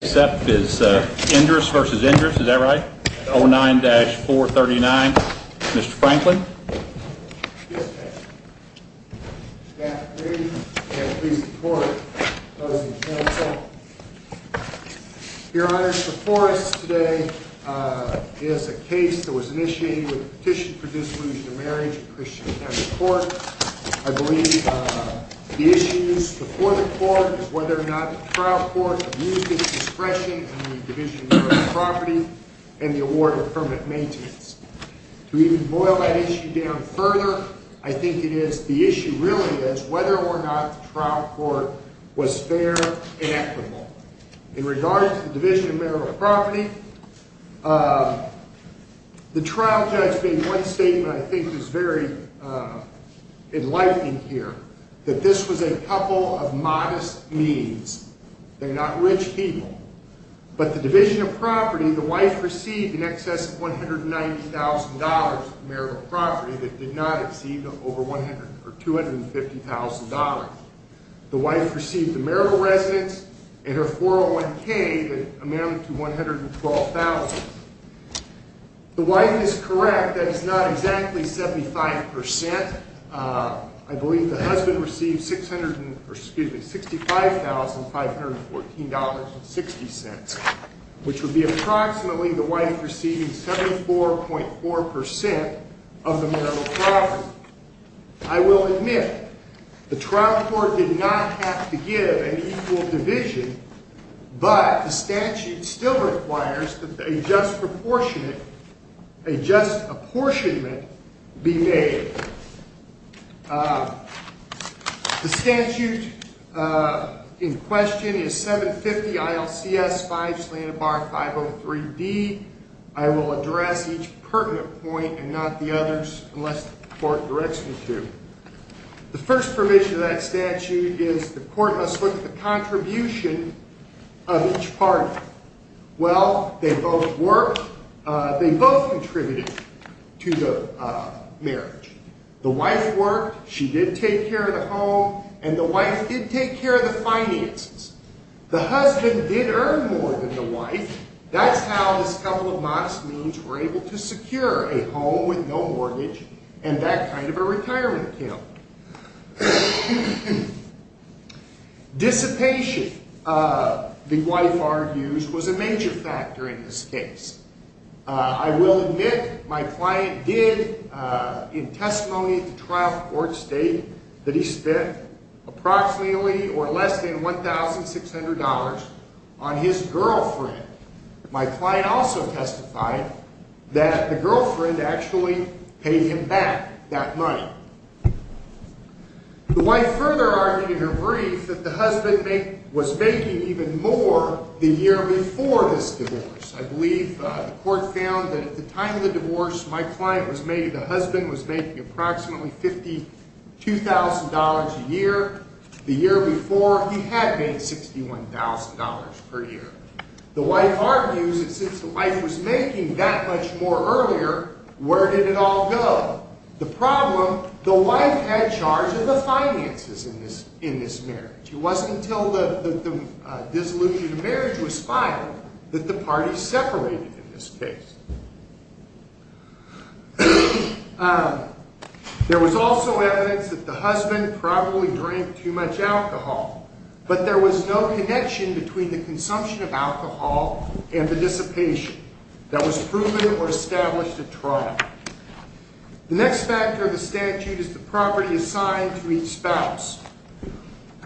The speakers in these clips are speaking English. is Endris versus Endris. Is that right? Oh, 9-4 39. Mr. Franklin. Yeah. Your Honor, the forest today is a case that was initiated with petition for disillusioned marriage. I believe the issues before the court, whether or not trial court discretion in the division of property and the award of permanent maintenance to even boil that issue down further. I think it is. The issue really is whether or not trial court was fair and equitable in regard to the division of marital property. Uh, the trial judge being one statement, I think, is very, uh, enlightening here that this was a couple of modest means. They're not rich people, but the division of property, the wife received in excess of $190,000 marital property that did not exceed over 100 or $250,000. The wife received a marital residence and her 401 K that amount to 112,000. The wife is correct. That is not exactly 75%. Uh, I believe the husband received 600 excuse me, $65,514.60, which would be approximately the wife receiving 74.4% of the marital property. I will admit the trial court did not have to give an equal division, but the statute still requires that a just proportionate, a just apportionment be made. Uh, the statute, uh, in question is 7 50 ILCS five slanted bar 503 D. I will address each pertinent point and not the others unless the court directs me to. The first provision of that statute is the court must look at the contribution of each party. Well, they both worked. They both contributed to the marriage. The wife worked, she did take care of the home and the wife did take care of the finances. The husband did earn more than the wife. That's how this couple of modest means were able to secure a home with no mortgage and that kind of a retirement account. Dissipation. Uh, the wife argues was a major factor in this case. I will admit my client did, uh, in testimony to trial court state that he spent approximately or less than $1,600 on his girlfriend. My client also testified that the girlfriend actually paid him back that money. The wife further argued in her brief that the husband was making even more the year before this divorce. I believe the court found that at the time of the divorce, my client was made. The husband was making approximately $52,000 a year. The year before he had made $61,000 per year. The wife argues that since the wife was making that much more earlier, where did it all go? The problem, the wife had charge of the finances in this, in this marriage. It wasn't until the dissolution of marriage was filed that the party separated in this case. Uh, there was also evidence that the husband probably drank too much alcohol, but there was no connection between the consumption of alcohol and the dissipation that was proven or established at trial. The next factor of the statute is the property assigned to each spouse.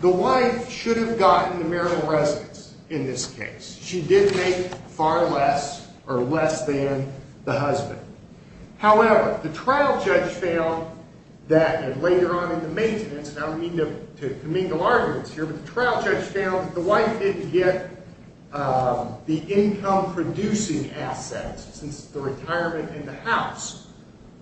The wife should have gotten the marital residence in this case. She did make far less or less than the husband. However, the trial judge found that later on in the maintenance, and I don't mean to, to commingle arguments here, but the trial judge found that the wife didn't get, uh, the income producing assets since the retirement in the house.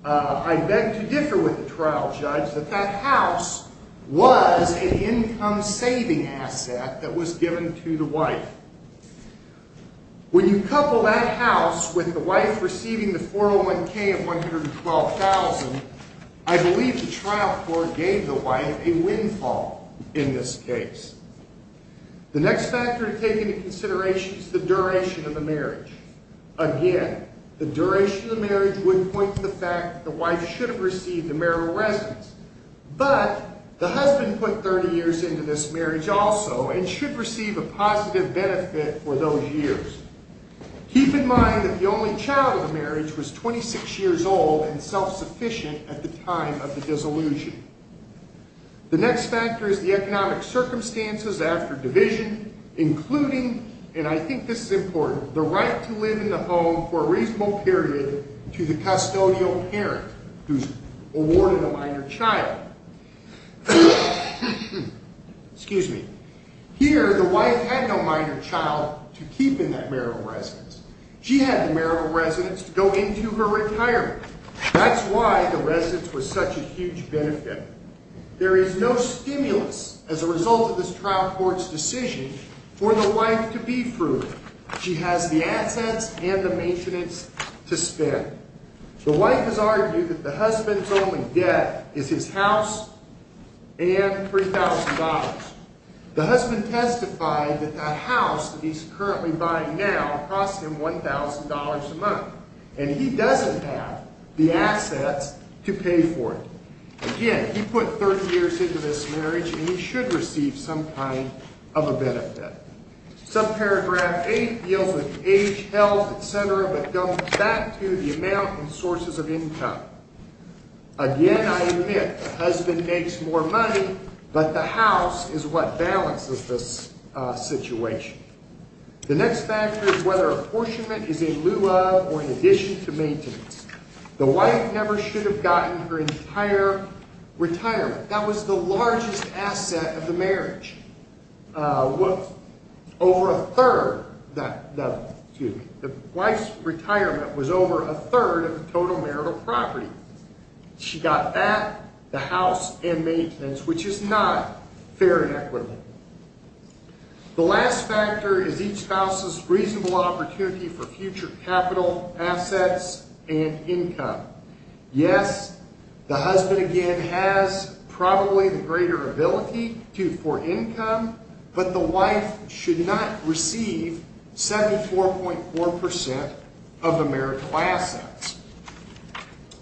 Uh, I beg to differ with the trial judge that that house was an income saving asset that was given to the wife. When you couple that house with the wife receiving the 401k of $112,000, I believe the trial court gave the wife a windfall in this case. The next factor to take into consideration is the duration of the marriage. Again, the duration of the marriage would point to the fact that the wife should have received the marital residence, but the husband put 30 years into this marriage also and should receive a positive benefit for those years. Keep in mind that the only child of the marriage was 26 years old and self-sufficient at the time of the dissolution. The next factor is the economic circumstances after division, including, and I think this is important, the right to live in the home for a reasonable period to the custodial parent who's awarded a minor child. Excuse me. Here, the wife had no minor child to keep in that marital residence. She had the marital residence to go into her retirement. That's why the residence was such a huge benefit. There is no stimulus as a result of this trial court's decision for the wife to be fruit. She has the assets and the maintenance to spend. The wife has argued that the husband's only debt is his house and $3,000. The husband testified that that house that he's currently buying now costs him $1,000 a month and he doesn't have the assets to pay for it. Again, he put 30 years into this marriage and he should receive some kind of a benefit. Subparagraph 8 deals with age, health, etc., but goes back to the amount and sources of income. Again, I admit, the husband makes more money, but the house is what balances this situation. The next factor is whether apportionment is in lieu of or in addition to maintenance. The wife never should have gotten her entire retirement. That was the largest asset of the marriage. Over a third, excuse me, the wife's retirement was over a third of the total marital property. She got that, the house, and maintenance, which is not fair and equitable. The last factor is each spouse's reasonable opportunity for future capital assets and income. Yes, the husband, again, has probably the greater ability for income, but the wife should not receive 74.4% of the marital assets.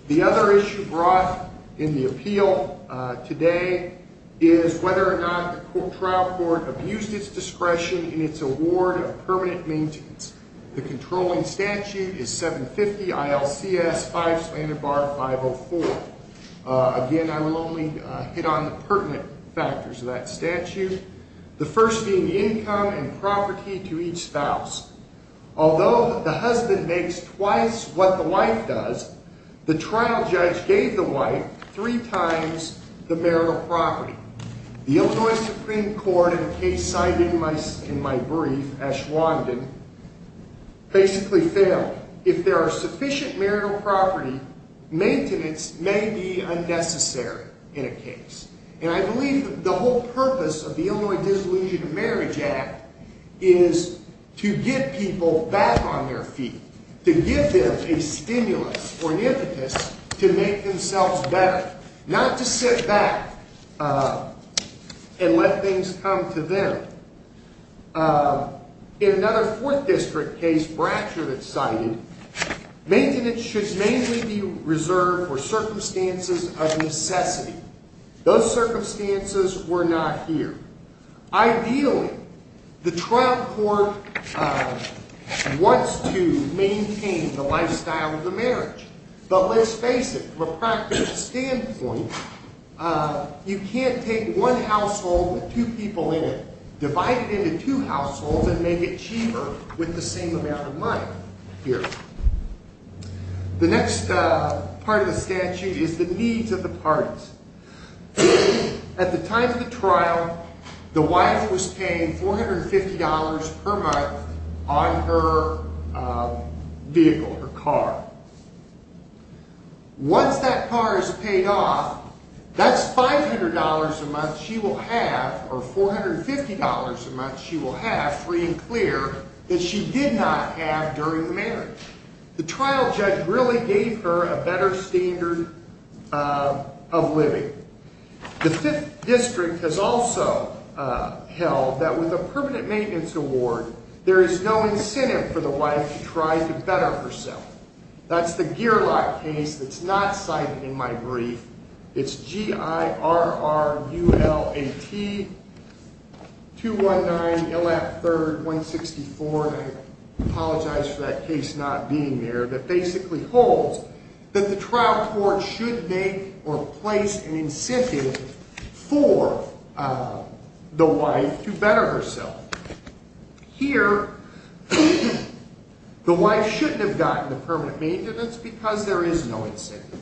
The other issue brought in the appeal today is whether or not the trial court abused its discretion in its award of permanent maintenance. The controlling statute is 750 ILCS 5 slandered bar 504. Again, I will only hit on the pertinent factors of that statute. The first being the income and property to each spouse. Although the husband makes twice what the wife does, the trial judge gave the wife three times the marital property. The Illinois Supreme Court, in a case signed in my brief, Ashwandan, basically failed. If there are sufficient marital property, maintenance may be unnecessary in a case. And I believe the whole purpose of the Illinois Disillusioned Marriage Act is to get people back on their feet, to give them a better life. Not to sit back and let things come to them. In another fourth district case, Brachowitz cited, maintenance should mainly be reserved for circumstances of necessity. Those circumstances were not here. Ideally, the trial court wants to maintain the standpoint, you can't take one household with two people in it, divide it into two households and make it cheaper with the same amount of money here. The next part of the statute is the needs of the parties. At the time of the trial, the wife was paying $450 per month on her vehicle, her car. Once that car is paid off, that's $500 a month she will have, or $450 a month she will have free and clear that she did not have during the marriage. The trial judge really gave her a better standard of living. The fifth district has also held that with a permanent maintenance award, there is no incentive for the wife to try to better herself. That's the Gearlock case that's not cited in my brief. It's G-I-R-R-U-L-A-T-219-ILF-3-164, and I apologize for that case not being there, that basically holds that the trial court should make or place an incentive for the wife to better herself. Here, the wife shouldn't have gotten the permanent maintenance because there is no incentive.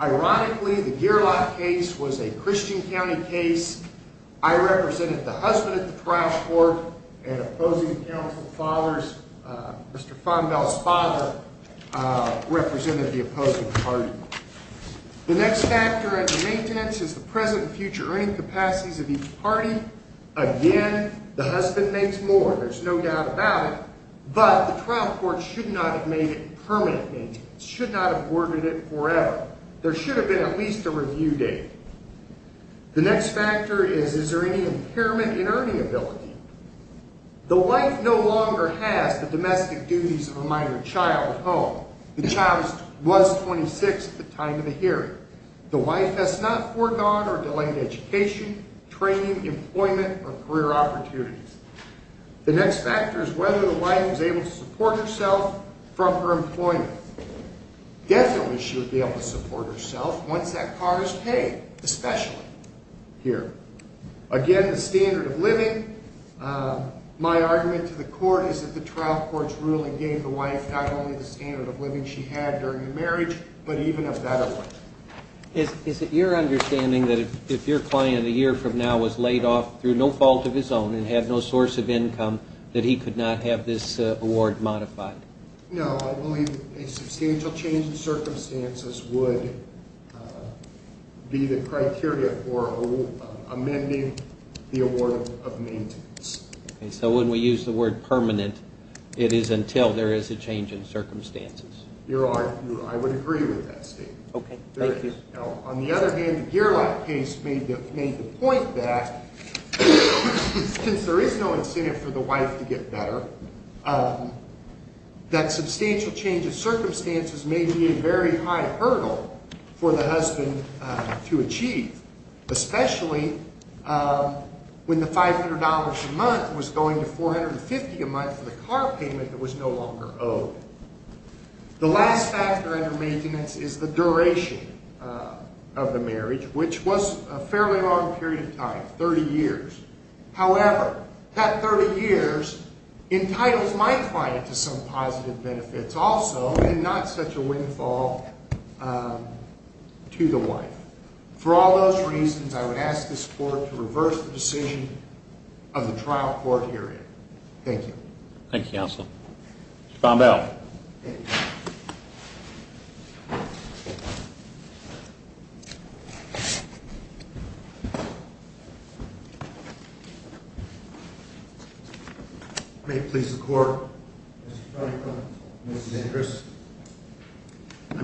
Ironically, the Gearlock case was a Christian County case. I represented the husband at the trial court and opposing counsel father's, Mr. Fonbell's father represented the opposing party. The next factor in the maintenance is the present and future earning capacities of each party. Again, the husband makes more, there's no doubt about it, but the trial court should not have made it permanent maintenance, should not have awarded it forever. There should have been at least a review date. The next factor is, is there any impairment in earning ability? The wife no longer has the domestic duties of a minor child at home. The child was 26 at the time. The next factor is whether the wife was able to support herself from her employment. Definitely, she would be able to support herself once that car is paid, especially here. Again, the standard of living, my argument to the court is that the trial court's ruling gave the wife not only the standard of living she had during the marriage, but even a better one. Is it your understanding that if your client a year from now was laid off through no fault of his own and had no source of income, that he could not have this award modified? No, I believe a substantial change in circumstances would be the criteria for amending the award of maintenance. So when we use the word permanent, it is until there is a change in circumstances. I would agree with that statement. Okay. Thank you. On the other hand, the Geerlach case made the point that since there is no incentive for the wife to get better, that substantial change of circumstances may be a very high hurdle for the husband to achieve, especially when the $500 a month was going to $450 a month for the car payment that was no longer owed. The last factor under maintenance is the duration of the marriage, which was a fairly long period of time, 30 years. However, that 30 years entitles my client to some positive benefits also, and not such a windfall to the wife. For all those reasons, I would ask this court to reverse the decision of the trial court hearing. Thank you. Thank you, counsel. Bombel. May it please the court. I'm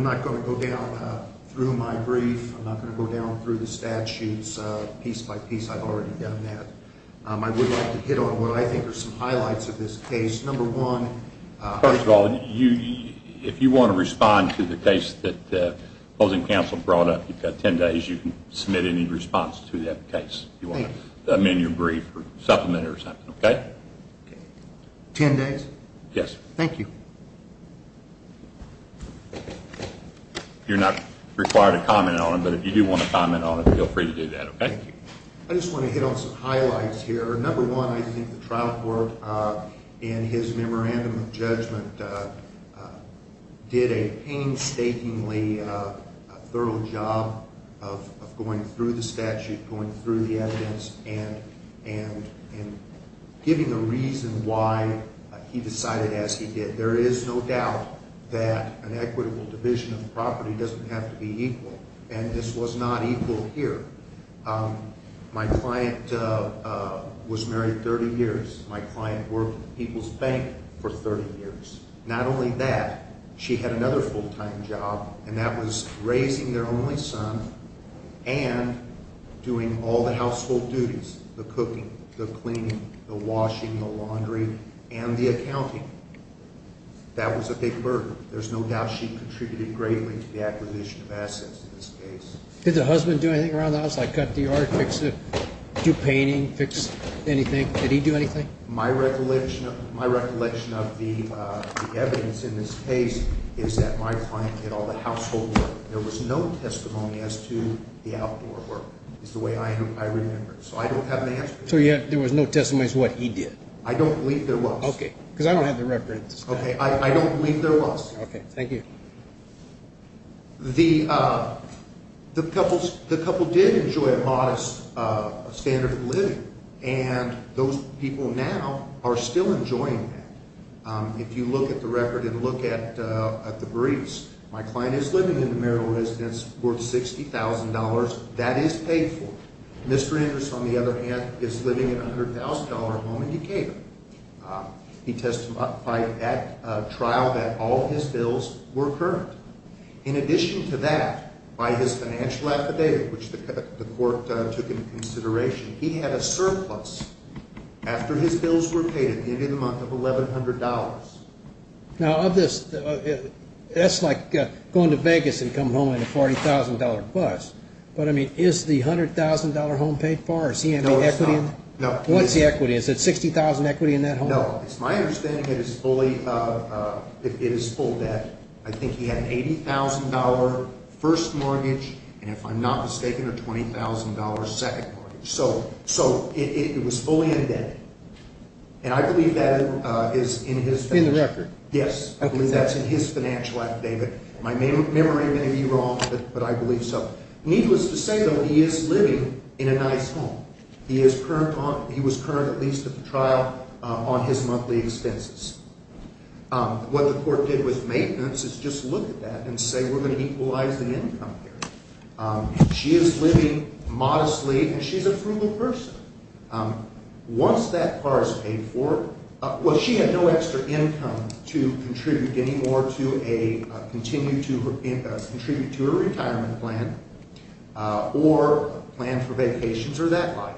not going to go down through my brief. I'm not gonna go down through the statues piece by piece. I've already done that. I would hit on what I think are some highlights of this case. First of all, if you want to respond to the case that opposing counsel brought up, you've got 10 days. You can submit any response to that case. You want to amend your brief or supplement it or something, okay? 10 days? Yes. Thank you. You're not required to comment on it, but if you do want to comment on it, feel free to do that. Okay. I just want to hit on some things. My client's memorandum of judgment did a painstakingly thorough job of going through the statute, going through the evidence, and giving a reason why he decided as he did. There is no doubt that an equitable division of property doesn't have to be equal, and this was not equal here. My client was married 30 years. My client worked at People's Bank for 30 years. Not only that, she had another full-time job, and that was raising their only son and doing all the household duties, the cooking, the cleaning, the washing, the laundry, and the accounting. That was a big burden. There's no doubt she contributed greatly to the acquisition of assets in this case. Did the husband do anything around the house? Like cut the yard, fix it, do painting, fix anything? Did he do anything? My recollection of the evidence in this case is that my client did all the household work. There was no testimony as to the outdoor work. It's the way I remember it, so I don't have an answer. So there was no testimony as to what he did? I don't believe there was. Okay, because I don't have the reference. Okay, I don't believe there was. Okay, thank you. The couple did enjoy a modest standard of living, and those people now are still enjoying that. If you look at the record and look at the briefs, my client is living in a marital residence worth $60,000. That is paid for. Mr. Andrews, on the other hand, is living in a $100,000 home in Decatur. He testified at trial that all his bills were current. In addition to that, by his financial affidavit, which the court took into consideration, he had a surplus after his bills were paid at the end of the month of $1,100. Now of this, that's like going to Vegas and coming home in a $40,000 bus. But I mean, is the $100,000 home paid for? Is he in equity? No. What's the equity? Is it $60,000 equity in that home? No. It's my understanding it is full debt. I believe that's in his financial affidavit. My memory may be wrong, but I believe so. Needless to say, though, he is living in a nice home. He was current, at least at the trial, on his monthly expenses. What the court did with maintenance is just look at that and say, we're going to equalize the income here. She is living modestly, and she's a frugal person. Once that car is paid for, well, she had no extra income to contribute any more to a, continue to contribute to a retirement plan or plan for vacations or that like.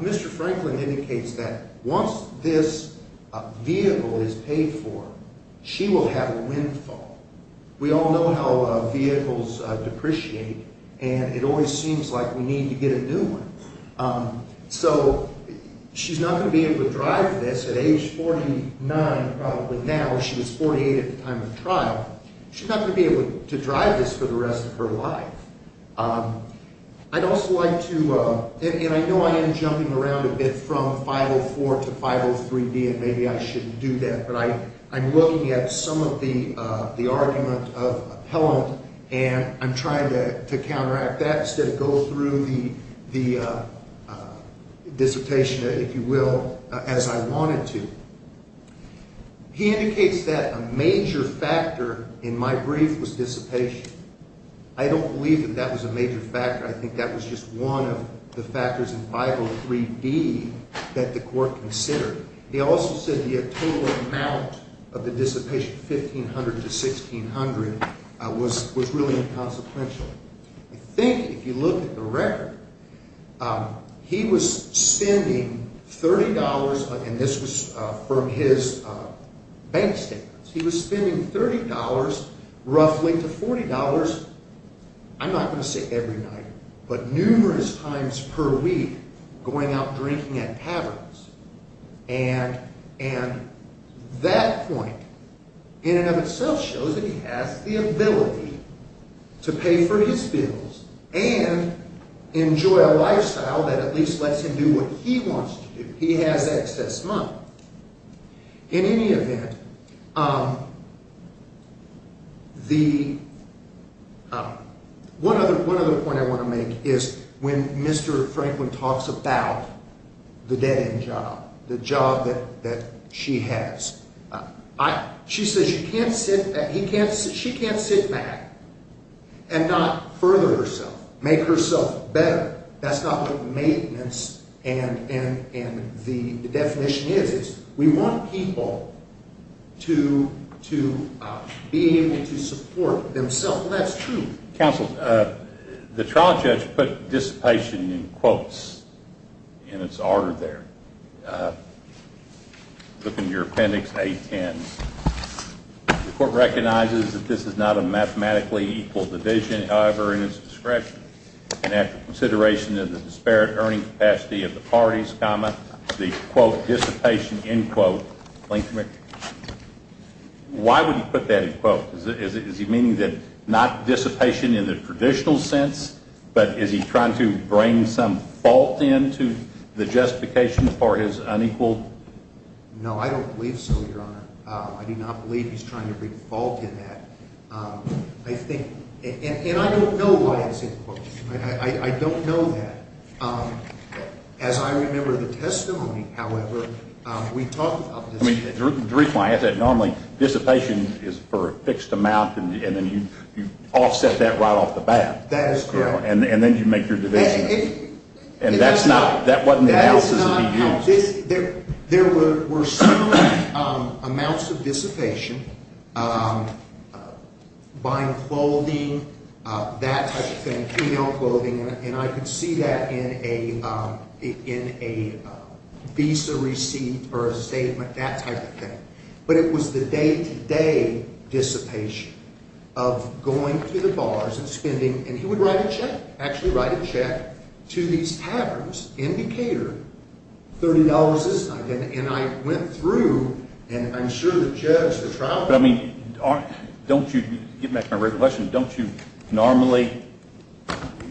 Mr. Franklin indicates that once this vehicle is paid for, she will have a windfall. We all know how vehicles depreciate, and it always seems like we need to get a new one. So she's not going to be able to drive this at age 49 probably now. She was 48 at the time of trial. She's not going to be able to drive this for the rest of her life. I'd also like to, and I know I am jumping around a bit from 504 to 503B, and maybe I shouldn't do that, but I'm looking at some of the argument of appellant, and I'm trying to counteract that instead of go through the dissipation, if you will, as I wanted to. He indicates that a major factor in my brief was dissipation. I don't believe that that was a major factor. I think that was just one of the factors in 503B that the court considered. He also said he had a total amount of the dissipation, 1,500 to 1,600, was really inconsequential. I think if you look at the record, he was spending $30, and this was from his bank statements, he was spending $30 roughly to $40, I'm not going to say every night, but numerous times per week going out drinking at taverns, and that point in and of itself shows that he has the ability to pay for his bills and enjoy a lifestyle that at least lets him do what he wants to do. He has excess money. In any event, the one other point I want to make is when Mr. Franklin talks about the dead-end job, the job that she has, she says she can't sit back and not further herself, make herself better. That's not what maintenance and the definition is. We want people to be able to support themselves, and that's true. Counsel, the trial judge put dissipation in quotes in its order there. Look in your appendix A-10. The court recognizes that this is not a mathematically equal division, however, in its discretion, and after consideration of the disparate earning capacity of the parties, comma, the quote, dissipation, end quote. Why would he put that in quotes? Is he meaning that not dissipation in the traditional sense, but is he trying to bring some fault into the justification for his unequal? No, I don't believe so, Your Honor. I do not believe he's trying to bring fault in that. I think, and I don't know why it's in quotes. I don't know that. As I remember the testimony, however, we talked about dissipation. The reason I ask that, normally dissipation is for a fixed amount, and then you offset that right off the bat. That is correct. And then you make your division, and that's not, that wasn't the analysis that he used. There were some amounts of dissipation, buying clothing, that type of thing, female clothing, and I could see that in a visa receipt or a statement, that type of thing. But it was the day-to-day dissipation of going through the bars and spending, and he would write a check, actually write a check to these taverns in Decatur, $30 a night, and I went through, and I'm sure the judge, the trial judge. I mean, don't you, getting back to my regular question, don't you normally,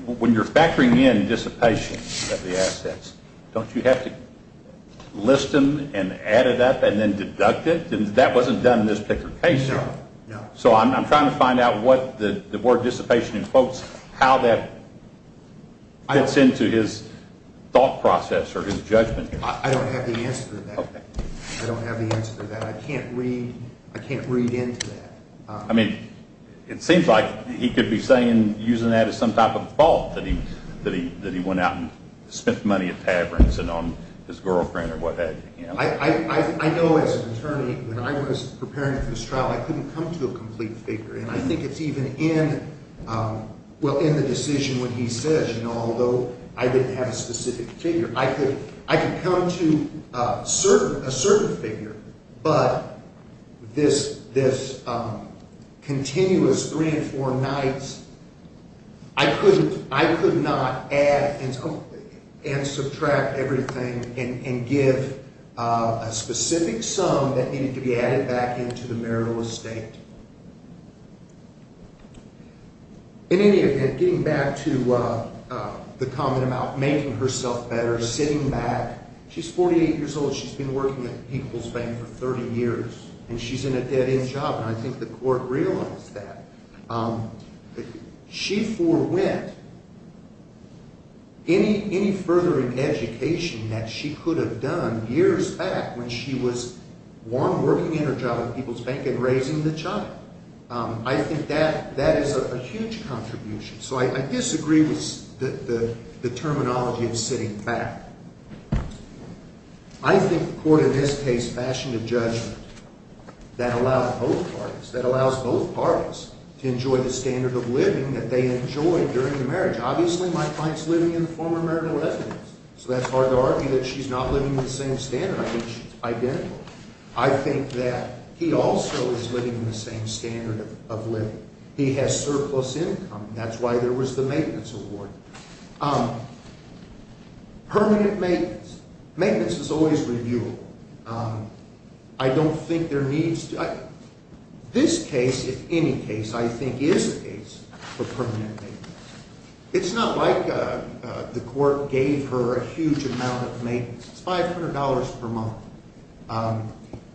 when you're factoring in dissipation of the assets, don't you have to list them and add it up and then deduct it? That wasn't done in this particular case. So I'm trying to find out what the word dissipation in quotes, how that fits into his thought process or his judgment. I don't have the answer to that. I don't have the answer to that. I can't read, I can't read into that. I mean, it seems like he could be saying, using that as some type of fault that he went out and spent money at taverns and on his girlfriend or what have you. I know as an attorney, when I was preparing for this trial, I couldn't come to a complete figure, and I think it's even in, well, in the decision when he says, you know, although I didn't have a specific figure, I could come to a certain figure, but this continuous three and four nights, I couldn't, I could not add and subtract everything and give a specific sum that needed to be added back into the marital estate. In any event, getting back to the comment about making herself better, sitting back, she's 48 years old, she's been working at People's Bank for 30 years, and she's in a dead-end job, and I think the court realized that. She forwent any further education that she could have done years back when she was, one, working in her job at People's Bank and raising the child. I think that is a huge contribution. So I disagree with the terminology of sitting back. I think the court in this case fashioned a judgment that allows both parties, that allows both parties to enjoy the standard of living that they enjoyed during the marriage. Obviously, my client's living in the former marital residence, so that's hard to argue that she's not living in the same standard. I think she's identical. I think that he also is living in the same standard of living. He has surplus income, and that's why there was the maintenance award. Permanent maintenance. Maintenance is always reviewable. I don't think there needs to be. This case, if any case, I think is a case for permanent maintenance. It's not like the court gave her a huge amount of maintenance. It's $500 per month,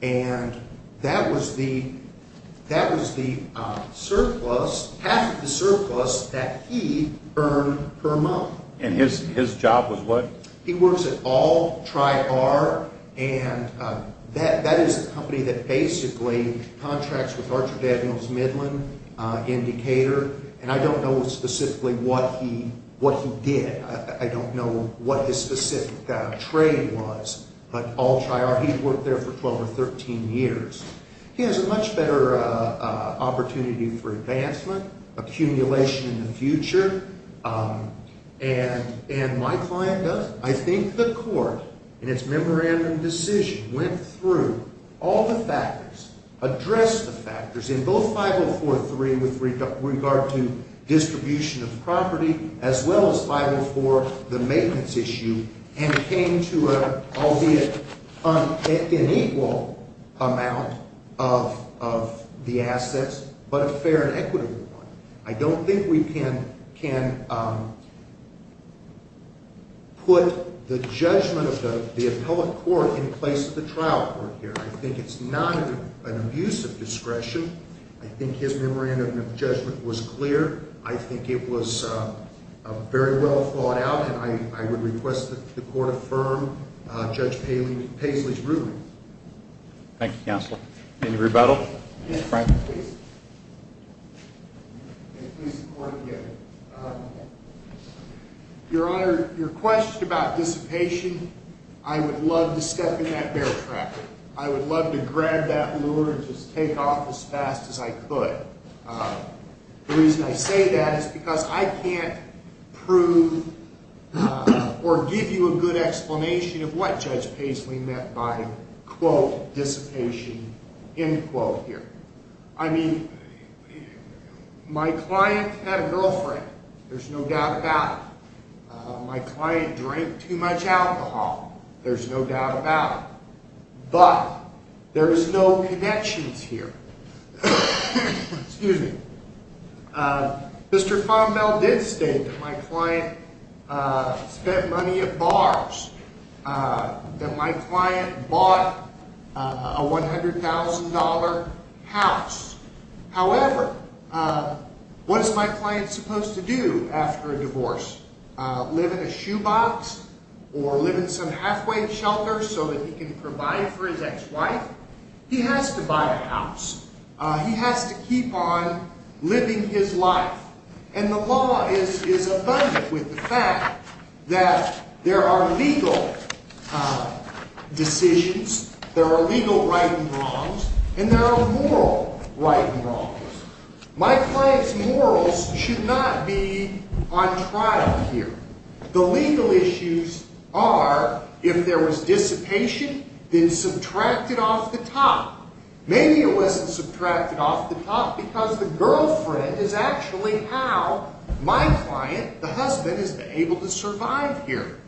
and that was the surplus, half of the surplus that he earned per month. And his job was what? He works at All Tri-R, and that is a company that basically contracts with Archer Daniels Midland in Decatur, and I don't know specifically what he did. I don't know what his specific trade was, but All Tri-R, he worked there for 12 or 13 years. He has a much better opportunity for advancement, accumulation in the future, and my client does. I think the court, in its memorandum decision, went through all the factors, addressed the factors in both 504.3 with regard to distribution of property, as well as 504 the maintenance issue, and came to an equal amount of the assets, but a fair and equitable one. I don't think we can put the judgment of the appellate court in place of the trial court here. I think it's not an abuse of discretion. I think his memorandum of judgment was clear. I think it was very well thought out, and I would request that the court affirm Judge Paisley's ruling. Thank you, counsel. Any rebuttal? Mr. Franklin, please. Your Honor, your question about dissipation, I would love to step in that bear trap. I would love to grab that lure and just take off as fast as I could. The reason I say that is because I can't prove or give you a good explanation of what Judge Paisley meant by quote, dissipation, end quote here. I mean, my client had a girlfriend, there's no doubt about it. My client drank too much alcohol, there's no doubt about it. But there is no connections here. Mr. Fonmel did state that my client spent money at bars, that my client bought a $100,000 house. However, what is my client supposed to do after a divorce? Live in a shoebox or live in some halfway shelter so that he can provide for his ex-wife? He has to buy a house. He has to keep on living his life. And the law is abundant with the fact that there are legal decisions, there are legal right and wrongs, and there are moral right and wrongs. My client's morals should not be on trial here. The legal issues are, if there was dissipation, then subtract it off the top. Maybe it wasn't subtracted off the top because the girlfriend is actually how my client, the husband, is able to survive here.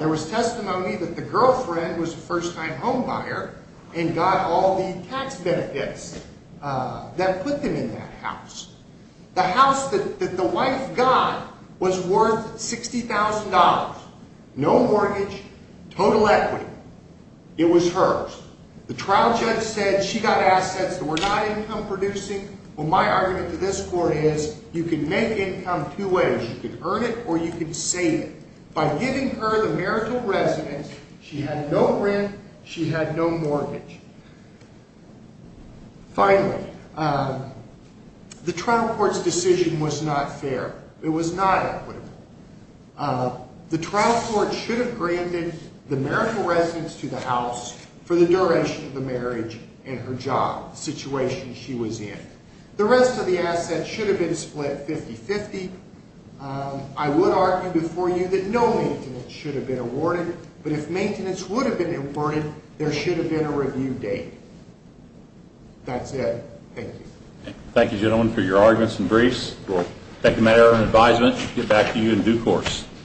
There was testimony that the girlfriend was a first-time home buyer and got all the tax benefits that put them in that house. The house that the wife got was worth $60,000. No mortgage, total equity. It was hers. The trial judge said she got assets that were not income producing. Well, my argument to this court is, you can make income two ways. You can earn it or you can save it. By giving her the marital residence, she had no rent, she had no mortgage. Finally, the trial court's decision was not fair. It was not equitable. The trial court should have granted the marital residence to the house for the duration of the marriage and her job, the situation she was in. The rest of the assets should have been split 50-50. I would argue before you that no maintenance should have been awarded, but if maintenance would have been awarded, there should have been a review date. That's it. Thank you. Thank you, gentlemen, for your arguments and briefs. We'll take them at our own advisement and get back to you in due course.